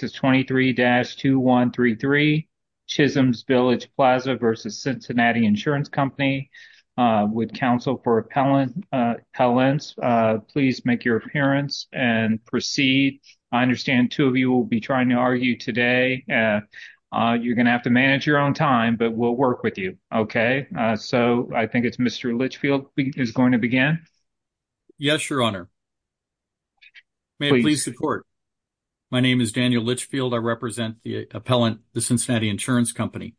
Please make your appearance and proceed. I understand two of you will be trying to argue today. You're going to have to manage your own time, but we'll work with you. Okay. So, I think it's Mr. Litchfield who's going to begin. Yes, your honor. Please support. Mr. Litchfield, I represent the appellant, the Cincinnati Insurance Company.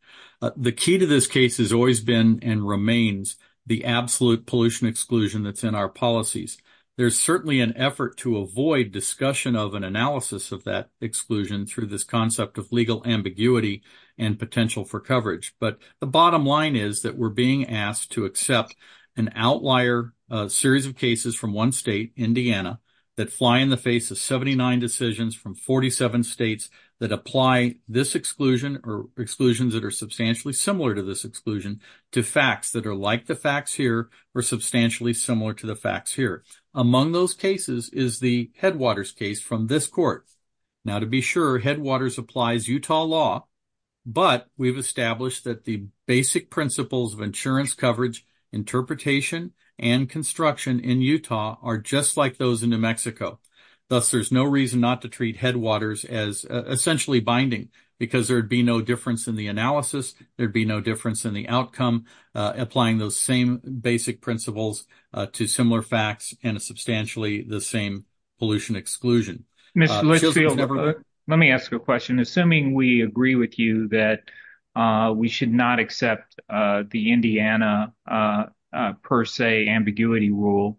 The key to this case has always been and remains the absolute pollution exclusion that's in our policies. There's certainly an effort to avoid discussion of an analysis of that exclusion through this concept of legal ambiguity and potential for coverage. But the bottom line is that we're being asked to accept an outlier series of cases from one state, Indiana, that fly in the face of 79 decisions from 47 states that apply this exclusion or exclusions that are substantially similar to this exclusion to facts that are like the facts here or substantially similar to the facts here. Among those cases is the Headwaters case from this court. Now, to be sure, Headwaters applies Utah law, but we've established that the basic principles of insurance coverage, interpretation, and construction in Utah are just like those in New Mexico. Thus, there's no reason not to treat Headwaters as essentially binding because there'd be no difference in the analysis. There'd be no difference in the outcome applying those same basic principles to similar facts and a substantially the same pollution exclusion. Mr. Litchfield, let me ask you a question. Assuming we agree with you that we should not accept the Indiana per se ambiguity rule,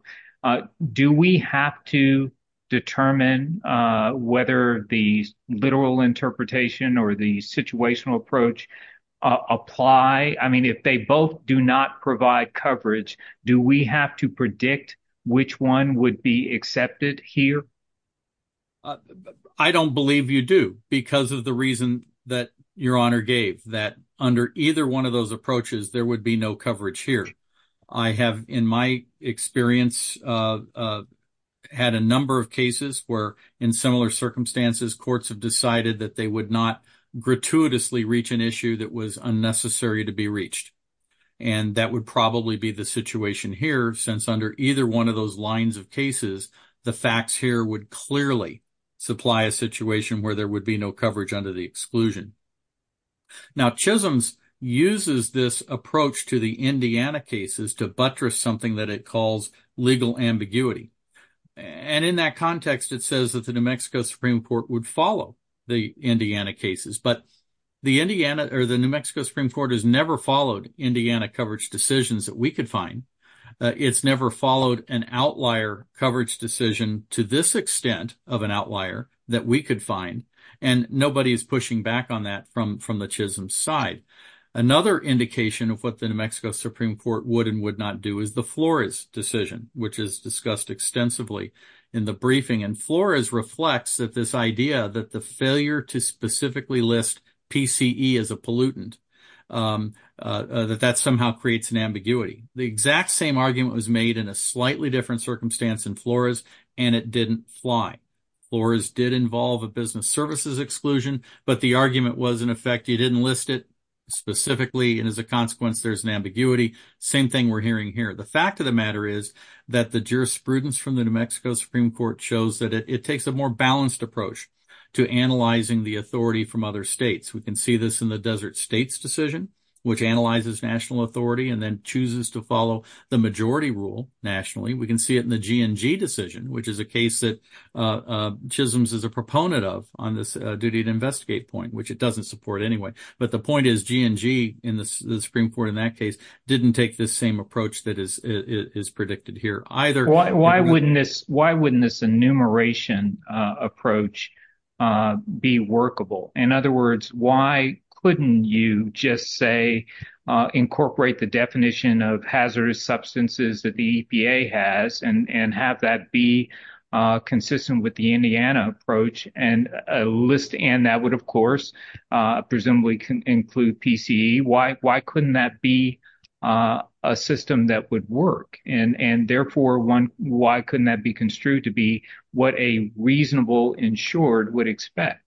do we have to determine whether the literal interpretation or the situational approach apply? If they both do not provide coverage, do we have to predict which one would be accepted here? And that would probably be the situation here since under either one of those lines of cases, the facts here would clearly supply a situation where there would be no coverage under the exclusion. Now, Chisholm's uses this approach to the Indiana cases to buttress something that it calls legal ambiguity. And in that context, it says that the New Mexico Supreme Court would follow the Indiana cases, but the New Mexico Supreme Court has never followed Indiana coverage decisions that we could find. It's never followed an outlier coverage decision to this extent of an outlier that we could find. And nobody is pushing back on that from the Chisholm side. Another indication of what the New Mexico Supreme Court would and would not do is the Flores decision, which is discussed extensively in the briefing. And Flores reflects that this idea that the failure to specifically list PCE as a pollutant, that that somehow creates an ambiguity. The exact same argument was made in a slightly different circumstance in Flores, and it didn't fly. Flores did involve a business services exclusion, but the argument was in effect, you didn't list it specifically, and as a consequence, there's an ambiguity. Same thing we're hearing here. The fact of the matter is that the jurisprudence from the New Mexico Supreme Court shows that it takes a more balanced approach to analyzing the authority from other states. We can see this in the Desert States decision, which analyzes national authority and then chooses to follow the majority rule nationally. We can see it in the GNG decision, which is a case that Chisholm is a proponent of on this duty to investigate point, which it doesn't support anyway. But the point is GNG in the Supreme Court in that case didn't take this same approach that is predicted here either. Why wouldn't this why wouldn't this enumeration approach be workable? In other words, why couldn't you just say incorporate the definition of hazardous substances that the EPA has and have that be consistent with the Indiana approach and list? And that would, of course, presumably include PCE. Why couldn't that be a system that would work? And therefore, why couldn't that be construed to be what a reasonable insured would expect?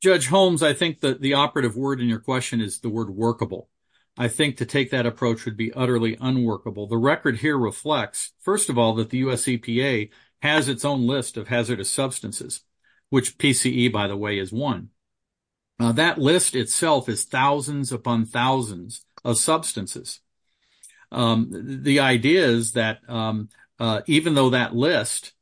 Judge Holmes, I think that the operative word in your question is the word workable. I think to take that approach would be utterly unworkable. The record here reflects, first of all, that the US EPA has its own list of hazardous substances, which PCE, by the way, is one. Now, that list itself is thousands upon thousands of substances. The idea is that even though that list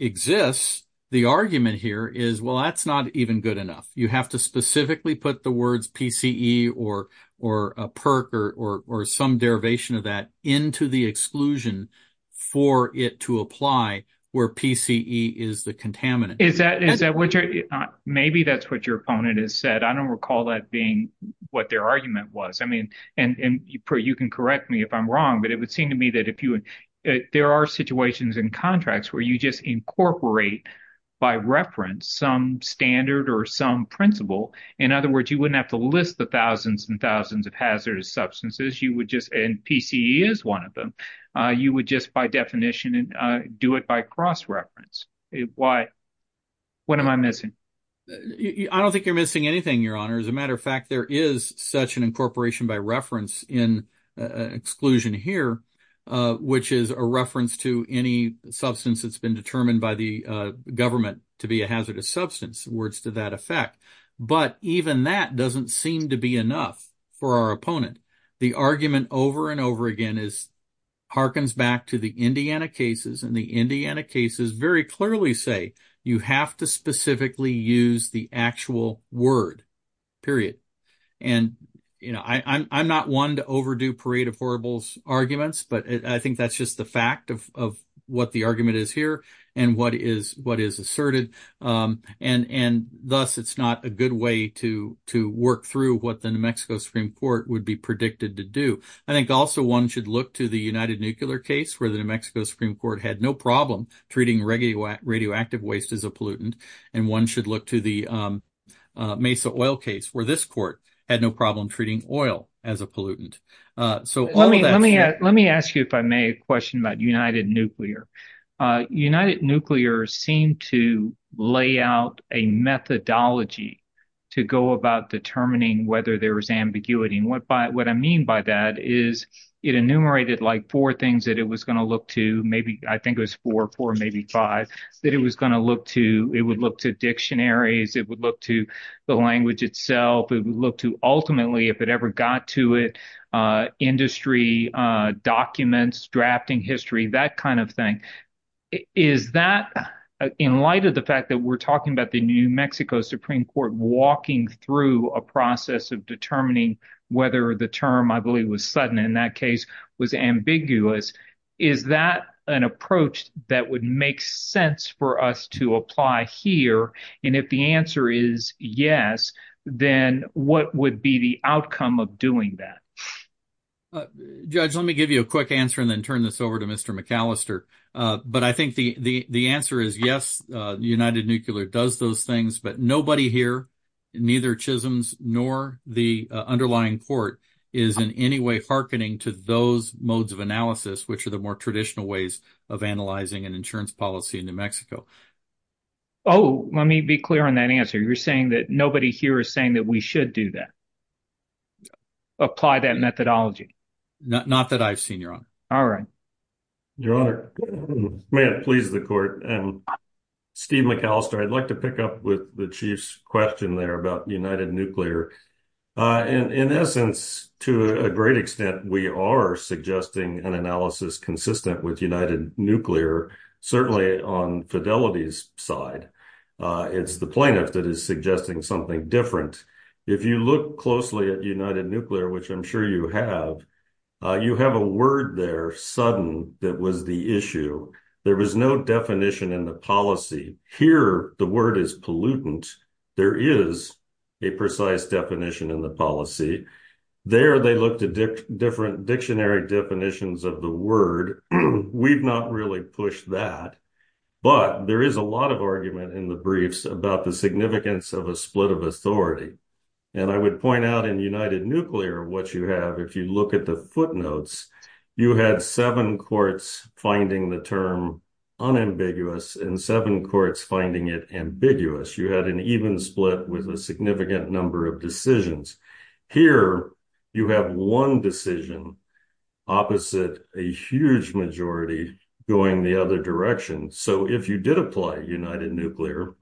exists, the argument here is, well, that's not even good enough. You have to specifically put the words PCE or or a perk or some derivation of that into the exclusion for it to apply where PCE is the contaminant. Is that is that what you're maybe that's what your opponent has said. I don't recall that being what their argument was. I mean, and you can correct me if I'm wrong. But it would seem to me that if you there are situations in contracts where you just incorporate by reference some standard or some principle. In other words, you wouldn't have to list the thousands and thousands of hazardous substances. You would just and PCE is one of them. You would just by definition and do it by cross reference. Why? What am I missing? I don't think you're missing anything, Your Honor. As a matter of fact, there is such an incorporation by reference in exclusion here, which is a reference to any substance that's been determined by the government to be a hazardous substance. Words to that effect. But even that doesn't seem to be enough for our opponent. The argument over and over again is harkens back to the Indiana cases and the Indiana cases very clearly say you have to specifically use the actual word, period. And, you know, I'm not one to overdo parade of horribles arguments, but I think that's just the fact of what the argument is here and what is what is asserted. And thus, it's not a good way to to work through what the New Mexico Supreme Court would be predicted to do. I think also one should look to the United Nuclear case where the New Mexico Supreme Court had no problem treating regular radioactive waste as a pollutant. And one should look to the Mesa oil case where this court had no problem treating oil as a pollutant. So let me let me let me ask you, if I may, a question about United Nuclear. United Nuclear seemed to lay out a methodology to go about determining whether there was ambiguity. And what by what I mean by that is it enumerated like four things that it was going to look to. Maybe I think it was four or four, maybe five that it was going to look to. It would look to dictionaries. It would look to the language itself. It would look to ultimately if it ever got to it, industry documents, drafting history, that kind of thing. Is that in light of the fact that we're talking about the New Mexico Supreme Court walking through a process of determining whether the term I believe was sudden in that case was ambiguous? Is that an approach that would make sense for us to apply here? And if the answer is yes, then what would be the outcome of doing that? Judge, let me give you a quick answer and then turn this over to Mr. McAllister. But I think the answer is yes, United Nuclear does those things, but nobody here, neither Chisholm's nor the underlying court is in any way hearkening to those modes of analysis, which are the more traditional ways of analyzing an insurance policy in New Mexico. Oh, let me be clear on that answer. You're saying that nobody here is saying that we should do that. Apply that methodology. Not that I've seen your honor. All right. Your honor, may it please the court. Steve McAllister, I'd like to pick up with the chief's question there about United Nuclear. And in essence, to a great extent, we are suggesting an analysis consistent with United Nuclear, certainly on Fidelity's side. It's the plaintiff that is suggesting something different. If you look closely at United Nuclear, which I'm sure you have, you have a word there, sudden, that was the issue. There was no definition in the policy here. The word is pollutant. There is a precise definition in the policy there. They looked at different dictionary definitions of the word. We've not really pushed that. But there is a lot of argument in the briefs about the significance of a split of authority. And I would point out in United Nuclear what you have. If you look at the footnotes, you had seven courts finding the term unambiguous and seven courts finding it ambiguous. You had an even split with a significant number of decisions. Here, you have one decision opposite a huge majority going the other direction. So if you did apply United Nuclear,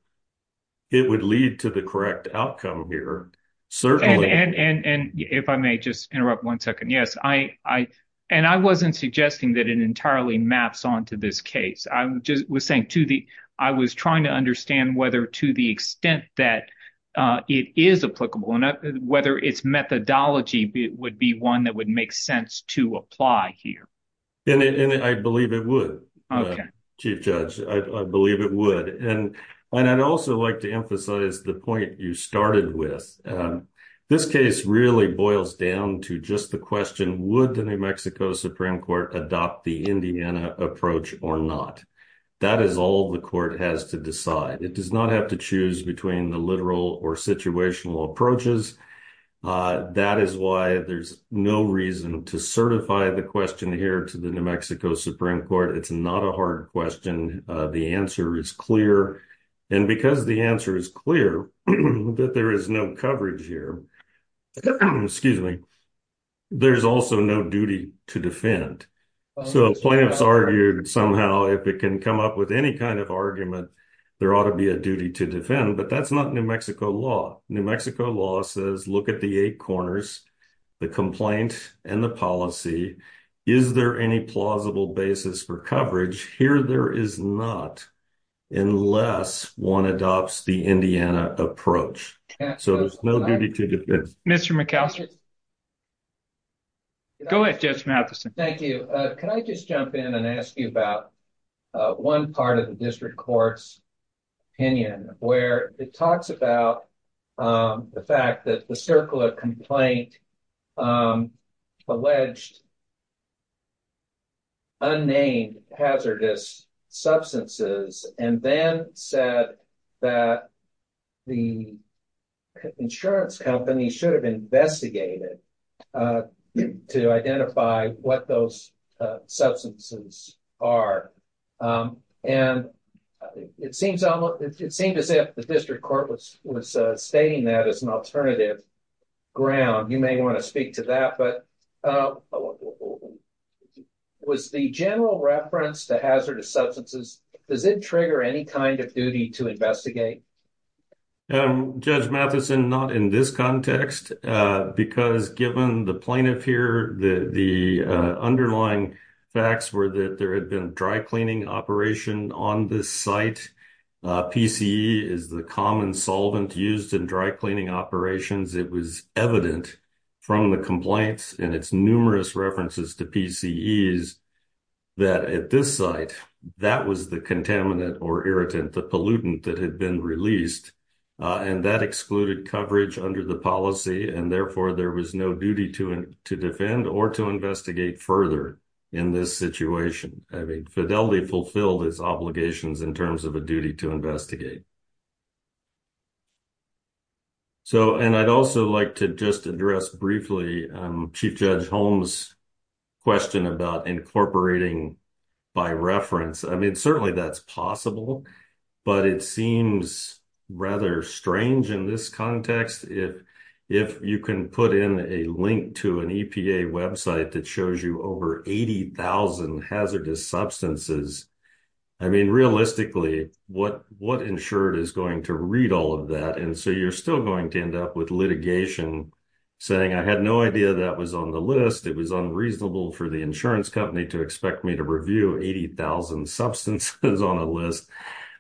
it would lead to the correct outcome here, certainly. And if I may just interrupt one second, yes. And I wasn't suggesting that it entirely maps onto this case. I was trying to understand whether to the extent that it is applicable and whether its methodology would be one that would make sense to apply here. And I believe it would, Chief Judge. I believe it would. And I'd also like to emphasize the point you started with. This case really boils down to just the question, would the New Mexico Supreme Court adopt the Indiana approach or not? That is all the court has to decide. It does not have to choose between the literal or situational approaches. That is why there's no reason to certify the question here to the New Mexico Supreme Court. It's not a hard question. The answer is clear. And because the answer is clear that there is no coverage here, there's also no duty to defend. So plaintiffs argued somehow if it can come up with any kind of argument, there ought to be a duty to defend. But that's not New Mexico law. New Mexico law says look at the eight corners, the complaint and the policy. Is there any plausible basis for coverage? Here there is not unless one adopts the Indiana approach. So there's no duty to defend. Mr. McAllister? Go ahead, Judge Matheson. Thank you. Could I just jump in and ask you about one part of the district court's opinion where it talks about the fact that the circular complaint alleged unnamed hazardous substances and then said that the insurance company should have investigated to identify what those substances are. And it seems as if the district court was stating that as an alternative ground. You may want to speak to that. But was the general reference to hazardous substances, does it trigger any kind of duty to investigate? Judge Matheson, not in this context, because given the plaintiff here, the underlying facts were that there had been dry cleaning operation on this site. PCE is the common solvent used in dry cleaning operations. It was evident from the complaints and its numerous references to PCEs that at this site, that was the contaminant or irritant, the pollutant that had been released. And that excluded coverage under the policy. And therefore, there was no duty to defend or to investigate further in this situation. Fidelity fulfilled its obligations in terms of a duty to investigate. And I'd also like to just address briefly Chief Judge Holmes' question about incorporating by reference. I mean, certainly that's possible. But it seems rather strange in this context. If you can put in a link to an EPA website that shows you over 80,000 hazardous substances. I mean, realistically, what insured is going to read all of that? And so you're still going to end up with litigation saying, I had no idea that was on the list. It was unreasonable for the insurance company to expect me to review 80,000 substances on a list.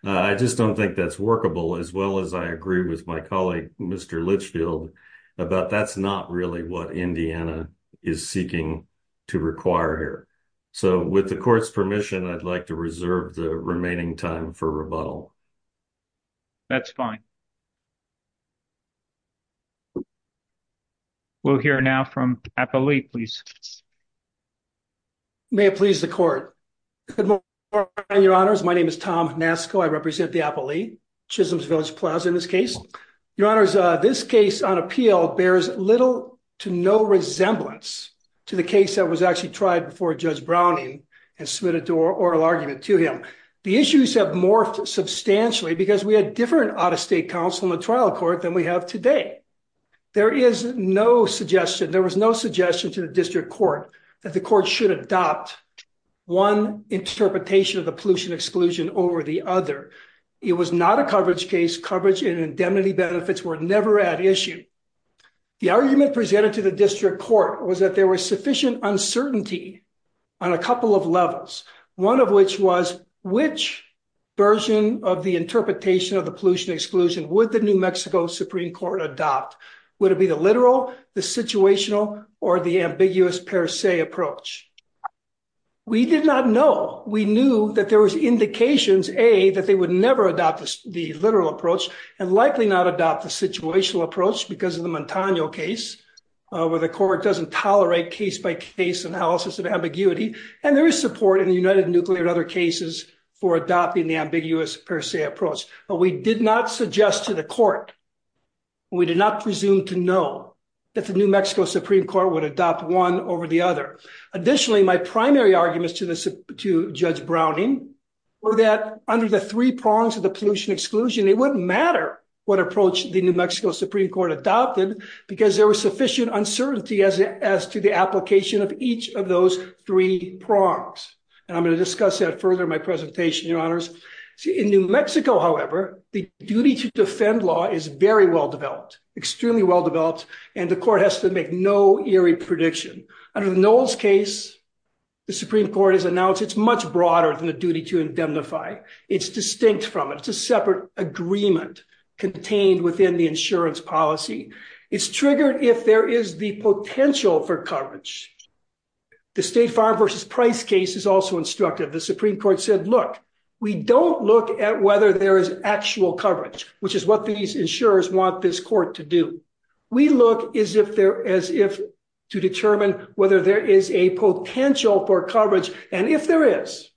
I just don't think that's workable. As well as I agree with my colleague, Mr. Litchfield, about that's not really what Indiana is seeking to require here. So with the court's permission, I'd like to reserve the remaining time for rebuttal. That's fine. We'll hear now from Apo Lee, please. May it please the court. Good morning, Your Honors. My name is Tom Nasko. I represent the Apo Lee, Chisholm's Village Plaza in this case. Your Honors, this case on appeal bears little to no resemblance to the case that was actually tried before Judge Browning and submitted to oral argument to him. The issues have morphed substantially because we had different out-of-state counsel in the trial court than we have today. There is no suggestion, there was no suggestion to the district court that the court should adopt one interpretation of the pollution exclusion over the other. It was not a coverage case. Coverage and indemnity benefits were never at issue. The argument presented to the district court was that there was sufficient uncertainty on a couple of levels. One of which was which version of the interpretation of the pollution exclusion would the New Mexico Supreme Court adopt? Would it be the literal, the situational, or the ambiguous per se approach? We did not know. We knew that there was indications, A, that they would never adopt the literal approach and likely not adopt the situational approach because of the Montano case where the court doesn't tolerate case-by-case analysis of ambiguity. And there is support in the United Nuclear and other cases for adopting the ambiguous per se approach. But we did not suggest to the court, we did not presume to know, that the New Mexico Supreme Court would adopt one over the other. Additionally, my primary arguments to Judge Browning were that under the three prongs of the pollution exclusion, it wouldn't matter what approach the New Mexico Supreme Court adopted because there was sufficient uncertainty as to the application of each of those three prongs. And I'm going to discuss that further in my presentation, Your Honors. In New Mexico, however, the duty to defend law is very well developed, extremely well developed, and the court has to make no eerie prediction. Under the Knowles case, the Supreme Court has announced it's much broader than the duty to indemnify. It's distinct from it. It's a separate agreement contained within the insurance policy. It's triggered if there is the potential for coverage. The State Farm versus Price case is also instructive. The Supreme Court said, look, we don't look at whether there is actual coverage, which is what these insurers want this court to do. We look as if to determine whether there is a potential for coverage. And if there is,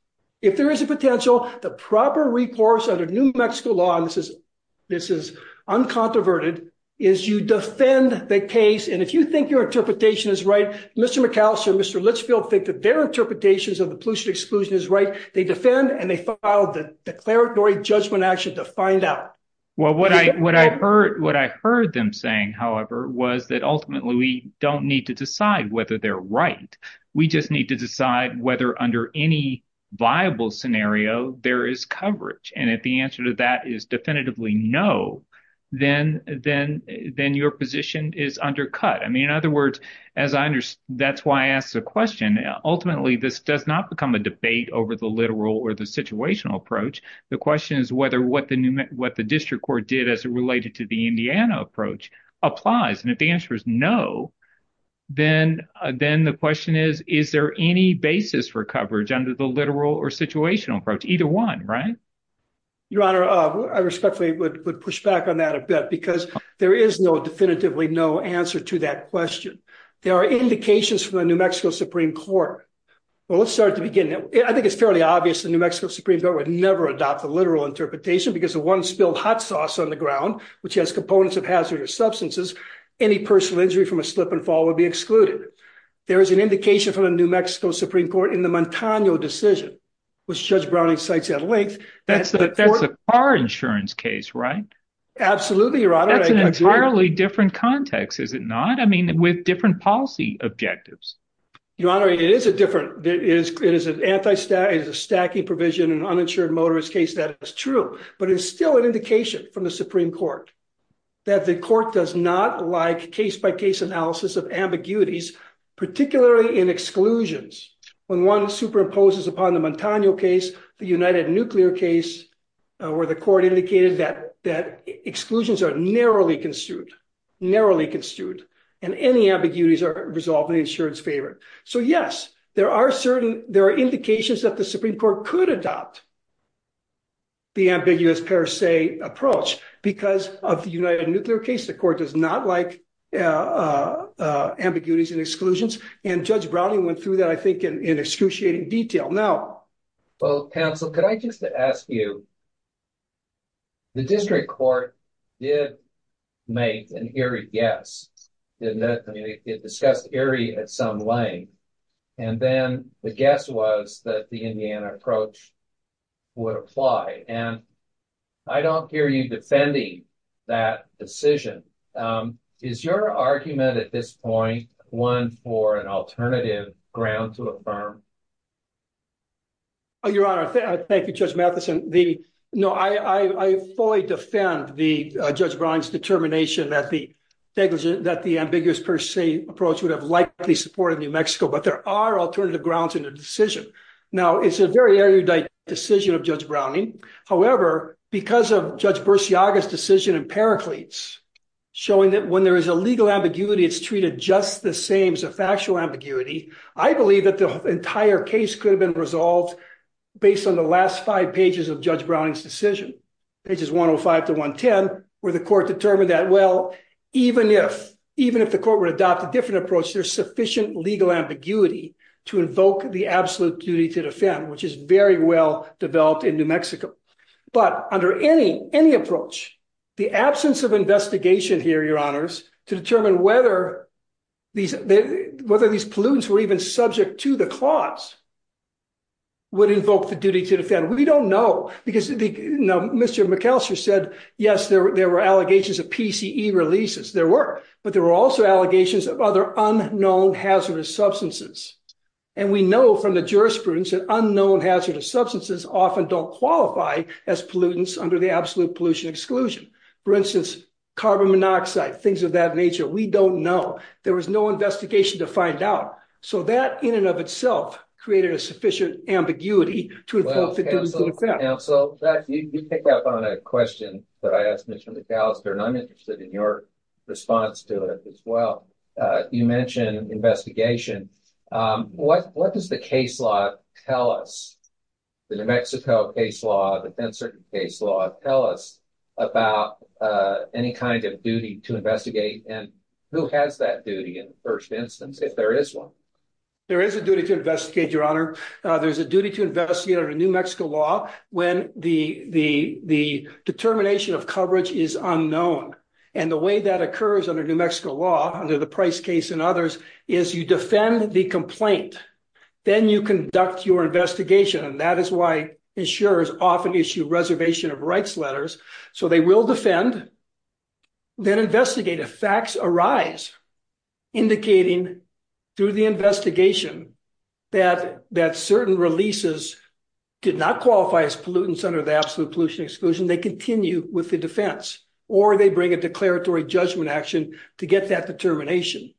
if there is a potential, the proper recourse under New Mexico law, and this is uncontroverted, is you defend the case. And if you think your interpretation is right, Mr. McAllister, Mr. Litchfield, think that their interpretations of the pollution exclusion is right, they defend and they file the declaratory judgment action to find out. Well, what I what I heard what I heard them saying, however, was that ultimately we don't need to decide whether they're right. We just need to decide whether under any viable scenario there is coverage. And if the answer to that is definitively no, then then then your position is undercut. I mean, in other words, as I understand, that's why I asked the question. Ultimately, this does not become a debate over the literal or the situational approach. The question is whether what the what the district court did as it related to the Indiana approach applies. And if the answer is no, then then the question is, is there any basis for coverage under the literal or situational approach? Either one. Right. Your Honor, I respectfully would push back on that a bit because there is no definitively no answer to that question. There are indications for the New Mexico Supreme Court. Well, let's start at the beginning. I think it's fairly obvious the New Mexico Supreme Court would never adopt the literal interpretation because of one spilled hot sauce on the ground, which has components of hazardous substances. Any personal injury from a slip and fall would be excluded. There is an indication from the New Mexico Supreme Court in the Montano decision, which Judge Browning cites at length. That's that's a car insurance case, right? Absolutely. Your Honor. That's an entirely different context, is it not? I mean, with different policy objectives. Your Honor, it is a different it is it is an anti-stat is a stacking provision and uninsured motorist case. That is true, but it's still an indication from the Supreme Court that the court does not like case by case analysis of ambiguities, particularly in exclusions. When one superimposes upon the Montano case, the United Nuclear case where the court indicated that that exclusions are narrowly construed, narrowly construed and any ambiguities are resolved in the insurance favor. So, yes, there are certain there are indications that the Supreme Court could adopt. The ambiguous per se approach because of the United Nuclear case, the court does not like ambiguities and exclusions, and Judge Browning went through that, I think, in excruciating detail now. Well, counsel, could I just ask you? The district court did make an eerie guess. It discussed eerie at some length, and then the guess was that the Indiana approach would apply. And I don't hear you defending that decision. Is your argument at this point one for an alternative ground to affirm? Your Honor, thank you, Judge Mathison. No, I fully defend Judge Brown's determination that the ambiguous per se approach would have likely supported New Mexico, but there are alternative grounds in the decision. Now, it's a very erudite decision of Judge Browning. However, because of Judge Bursiaga's decision in Pericles, showing that when there is a legal ambiguity, it's treated just the same as a factual ambiguity. I believe that the entire case could have been resolved based on the last five pages of Judge Browning's decision, pages 105 to 110, where the court determined that, well, even if the court would adopt a different approach, there's sufficient legal ambiguity to invoke the absolute duty to defend, which is very well developed in New Mexico. But under any approach, the absence of investigation here, Your Honors, to determine whether these pollutants were even subject to the clause would invoke the duty to defend. We don't know, because Mr. McElster said, yes, there were allegations of PCE releases. There were, but there were also allegations of other unknown hazardous substances. And we know from the jurisprudence that unknown hazardous substances often don't qualify as pollutants under the absolute pollution exclusion. For instance, carbon monoxide, things of that nature, we don't know. There was no investigation to find out. So that, in and of itself, created a sufficient ambiguity to invoke the duty to defend. Counsel, you picked up on a question that I asked Mr. McElster, and I'm interested in your response to it as well. You mentioned investigation. What does the case law tell us, the New Mexico case law, the Penn Circuit case law, tell us about any kind of duty to investigate? And who has that duty in the first instance, if there is one? There is a duty to investigate, Your Honor. There's a duty to investigate under New Mexico law when the determination of coverage is unknown. And the way that occurs under New Mexico law, under the Price case and others, is you defend the complaint. Then you conduct your investigation. And that is why insurers often issue reservation of rights letters. So they will defend, then investigate. If facts arise indicating through the investigation that certain releases did not qualify as pollutants under the absolute pollution exclusion, they continue with the defense. Or they bring a declaratory judgment action to get that determination.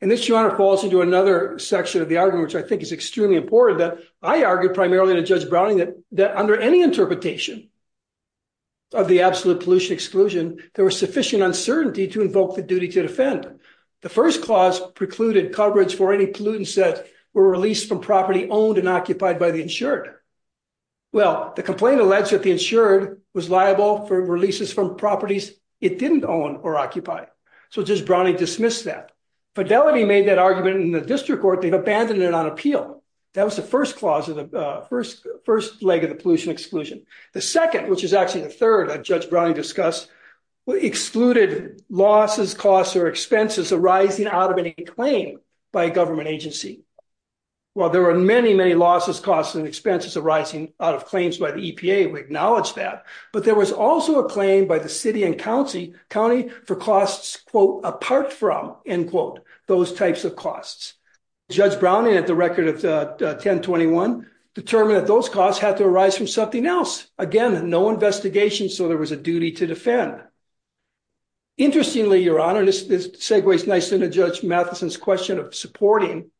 And this, Your Honor, falls into another section of the argument, which I think is extremely important, that I argued primarily to Judge Browning that under any interpretation of the absolute pollution exclusion, there was sufficient uncertainty to invoke the duty to defend. The first clause precluded coverage for any pollutants that were released from property owned and occupied by the insured. Well, the complaint alleged that the insured was liable for releases from properties it didn't own or occupy. So Judge Browning dismissed that. Fidelity made that argument in the district court. They abandoned it on appeal. That was the first leg of the pollution exclusion. The second, which is actually the third that Judge Browning discussed, excluded losses, costs, or expenses arising out of any claim by a government agency. Well, there were many, many losses, costs, and expenses arising out of claims by the EPA. We acknowledge that. But there was also a claim by the city and county for costs, quote, apart from, end quote, those types of costs. Judge Browning, at the record of 1021, determined that those costs had to arise from something else. Again, no investigation, so there was a duty to defend. Interestingly, Your Honor, this segues nicely into Judge Matheson's question of supporting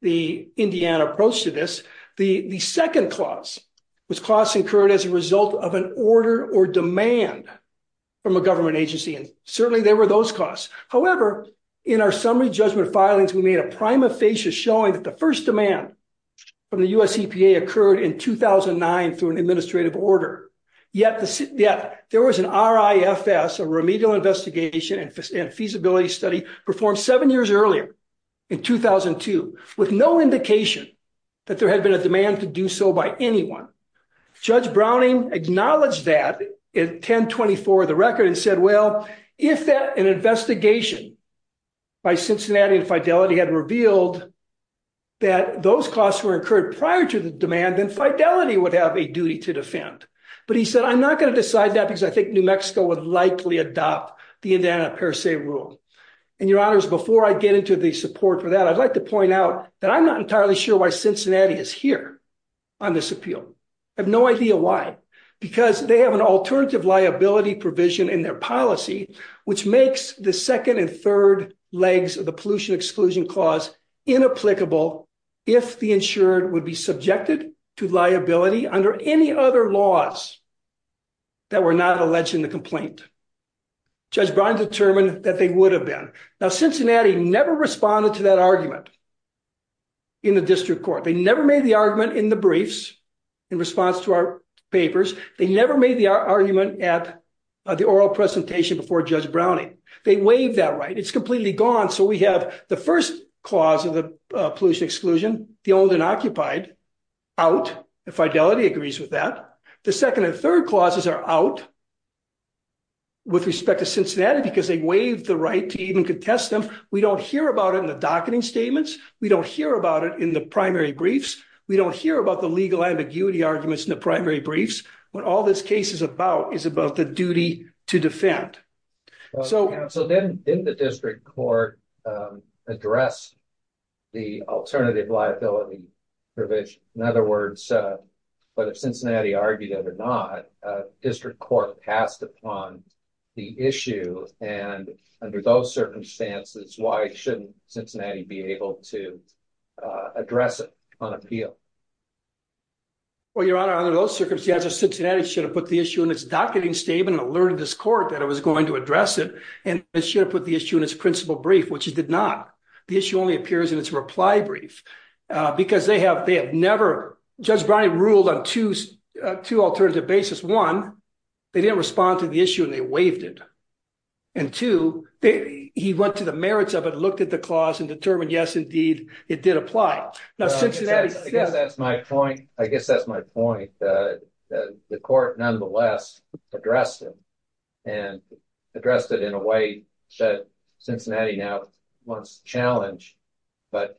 the Indiana approach to this. The second clause was costs incurred as a result of an order or demand from a government agency, and certainly there were those costs. However, in our summary judgment filings, we made a prima facie showing that the first demand from the US EPA occurred in 2009 through an administrative order. Yet there was an RIFS, a remedial investigation and feasibility study, performed seven years earlier, in 2002, with no indication that there had been a demand to do so by anyone. Judge Browning acknowledged that in 1024 of the record and said, well, if an investigation by Cincinnati and Fidelity had revealed that those costs were incurred prior to the demand, then Fidelity would have a duty to defend. But he said, I'm not going to decide that because I think New Mexico would likely adopt the Indiana per se rule. And, Your Honors, before I get into the support for that, I'd like to point out that I'm not entirely sure why Cincinnati is here on this appeal. I have no idea why, because they have an alternative liability provision in their policy, which makes the second and third legs of the pollution exclusion clause inapplicable if the insured would be subjected to liability under any other laws that were not alleged in the complaint. Judge Brown determined that they would have been. Now, Cincinnati never responded to that argument in the district court. They never made the argument in the briefs in response to our papers. They never made the argument at the oral presentation before Judge Browning. They waived that right. It's completely gone. So we have the first clause of the pollution exclusion, the owned and occupied, out. Fidelity agrees with that. The second and third clauses are out with respect to Cincinnati because they waived the right to even contest them. We don't hear about it in the docketing statements. We don't hear about it in the primary briefs. We don't hear about the legal ambiguity arguments in the primary briefs. What all this case is about is about the duty to defend. So then in the district court address the alternative liability provision. In other words, whether Cincinnati argued it or not, district court passed upon the issue. And under those circumstances, why shouldn't Cincinnati be able to address it on appeal? Well, Your Honor, under those circumstances, Cincinnati should have put the issue in its docketing statement and alerted this court that it was going to address it. And it should have put the issue in its principal brief, which it did not. The issue only appears in its reply brief because they have never, Judge Browning ruled on two alternative basis. One, they didn't respond to the issue and they waived it. And two, he went to the merits of it, looked at the clause and determined, yes, indeed, it did apply. I guess that's my point. I guess that's my point. The court nonetheless addressed it and addressed it in a way that Cincinnati now wants to challenge. But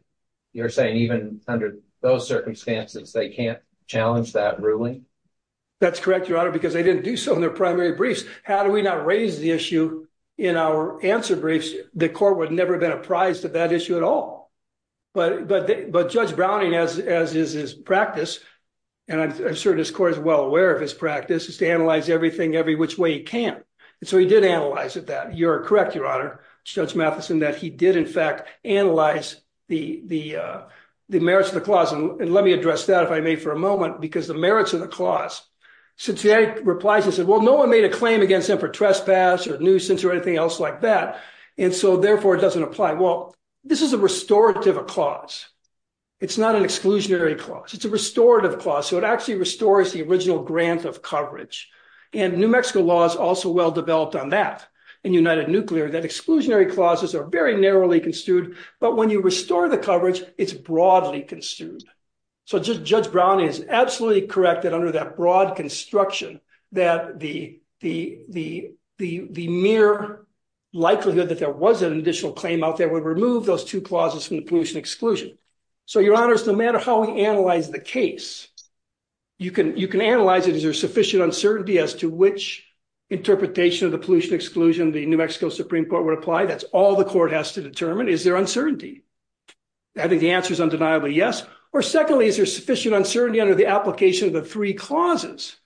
you're saying even under those circumstances, they can't challenge that ruling? That's correct, Your Honor, because they didn't do so in their primary briefs. How do we not raise the issue in our answer briefs? The court would never have been apprised of that issue at all. But Judge Browning, as is his practice, and I'm sure this court is well aware of his practice, is to analyze everything every which way he can. And so he did analyze that. You're correct, Your Honor, Judge Matheson, that he did, in fact, analyze the merits of the clause. And let me address that, if I may, for a moment, because the merits of the clause, Cincinnati replies and says, well, no one made a claim against him for trespass or nuisance or anything else like that. And so, therefore, it doesn't apply. Well, this is a restorative clause. It's not an exclusionary clause. It's a restorative clause. So it actually restores the original grant of coverage. And New Mexico law is also well developed on that in United Nuclear, that exclusionary clauses are very narrowly construed. But when you restore the coverage, it's broadly construed. So Judge Brown is absolutely correct that under that broad construction that the mere likelihood that there was an additional claim out there would remove those two clauses from the pollution exclusion. So, Your Honors, no matter how we analyze the case, you can analyze it. Is there sufficient uncertainty as to which interpretation of the pollution exclusion the New Mexico Supreme Court would apply? That's all the court has to determine. Is there uncertainty? I think the answer is undeniably yes. Or secondly, is there sufficient uncertainty under the application of the three clauses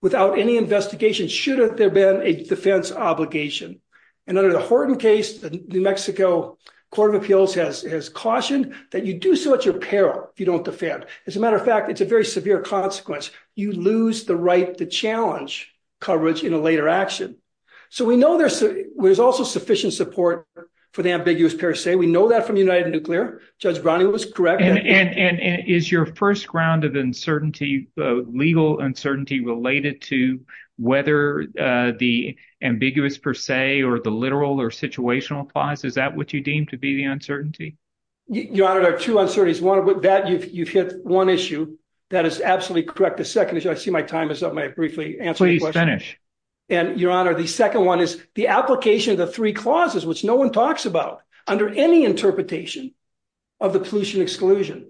without any investigation should there have been a defense obligation? And under the Horton case, the New Mexico Court of Appeals has cautioned that you do so at your peril if you don't defend. As a matter of fact, it's a very severe consequence. You lose the right to challenge coverage in a later action. So we know there's also sufficient support for the ambiguous per se. We know that from United Nuclear. Judge Browning was correct. And is your first ground of uncertainty, legal uncertainty, related to whether the ambiguous per se or the literal or situational applies? Is that what you deem to be the uncertainty? Your Honor, there are two uncertainties. One, with that, you've hit one issue. That is absolutely correct. The second issue, I see my time is up. May I briefly answer the question? Please finish. And, Your Honor, the second one is the application of the three clauses, which no one talks about, under any interpretation of the pollution exclusion,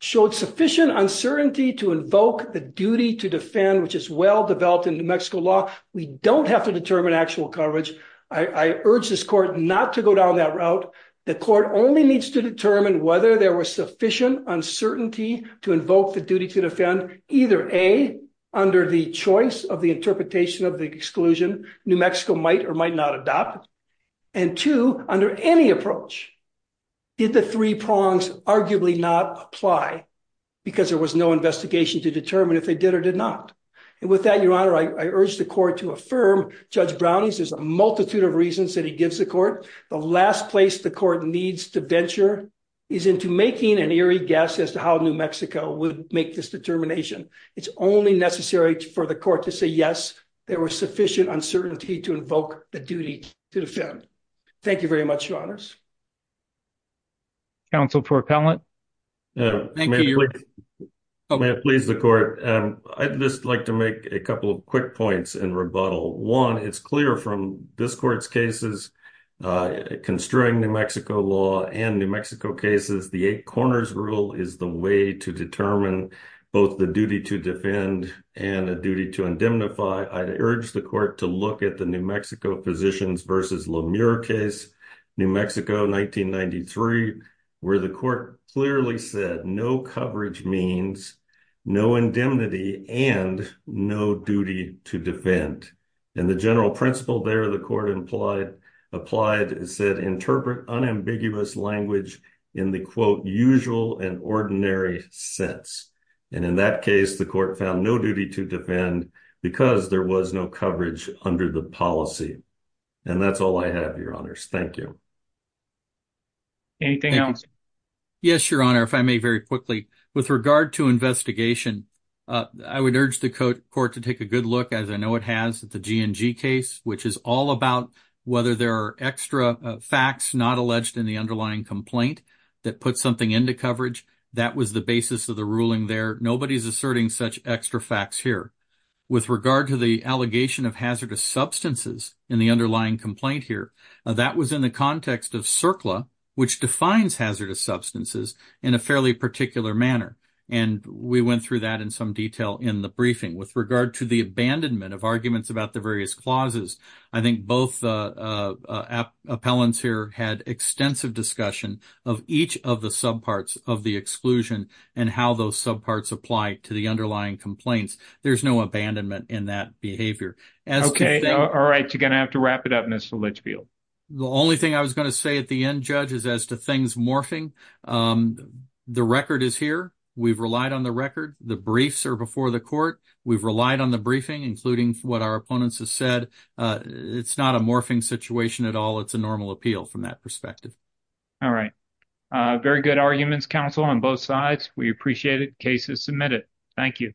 showed sufficient uncertainty to invoke the duty to defend, which is well-developed in New Mexico law. We don't have to determine actual coverage. I urge this court not to go down that route. The court only needs to determine whether there was sufficient uncertainty to invoke the duty to defend, either A, under the choice of the interpretation of the exclusion, New Mexico might or might not adopt, and two, under any approach, did the three prongs arguably not apply because there was no investigation to determine if they did or did not. And with that, Your Honor, I urge the court to affirm Judge Browning's multitude of reasons that he gives the court. The last place the court needs to venture is into making an eerie guess as to how New Mexico would make this determination. It's only necessary for the court to say, yes, there was sufficient uncertainty to invoke the duty to defend. Counsel for appellant. Thank you, Your Honor. May it please the court. I'd just like to make a couple of quick points in rebuttal. One, it's clear from this court's cases, construing New Mexico law and New Mexico cases, the eight corners rule is the way to determine both the duty to defend and the duty to indemnify. I urge the court to look at the New Mexico Physicians versus Lemur case, New Mexico, 1993, where the court clearly said no coverage means no indemnity and no duty to defend. And the general principle there the court applied said interpret unambiguous language in the, quote, usual and ordinary sense. And in that case, the court found no duty to defend because there was no coverage under the policy. And that's all I have, Your Honors. Thank you. Anything else? Yes, Your Honor, if I may very quickly. With regard to investigation, I would urge the court to take a good look, as I know it has, at the G&G case, which is all about whether there are extra facts not alleged in the underlying complaint that put something into coverage. That was the basis of the ruling there. Nobody is asserting such extra facts here. With regard to the allegation of hazardous substances in the underlying complaint here, that was in the context of CERCLA, which defines hazardous substances in a fairly particular manner. And we went through that in some detail in the briefing. With regard to the abandonment of arguments about the various clauses, I think both appellants here had extensive discussion of each of the subparts of the exclusion and how those subparts apply to the underlying complaints. There's no abandonment in that behavior. Okay. All right. You're going to have to wrap it up, Mr. Litchfield. The only thing I was going to say at the end, Judge, is as to things morphing, the record is here. We've relied on the record. The briefs are before the court. We've relied on the briefing, including what our opponents have said. It's not a morphing situation at all. It's a normal appeal from that perspective. All right. Very good arguments, counsel, on both sides. We appreciate it. Case is submitted. Thank you.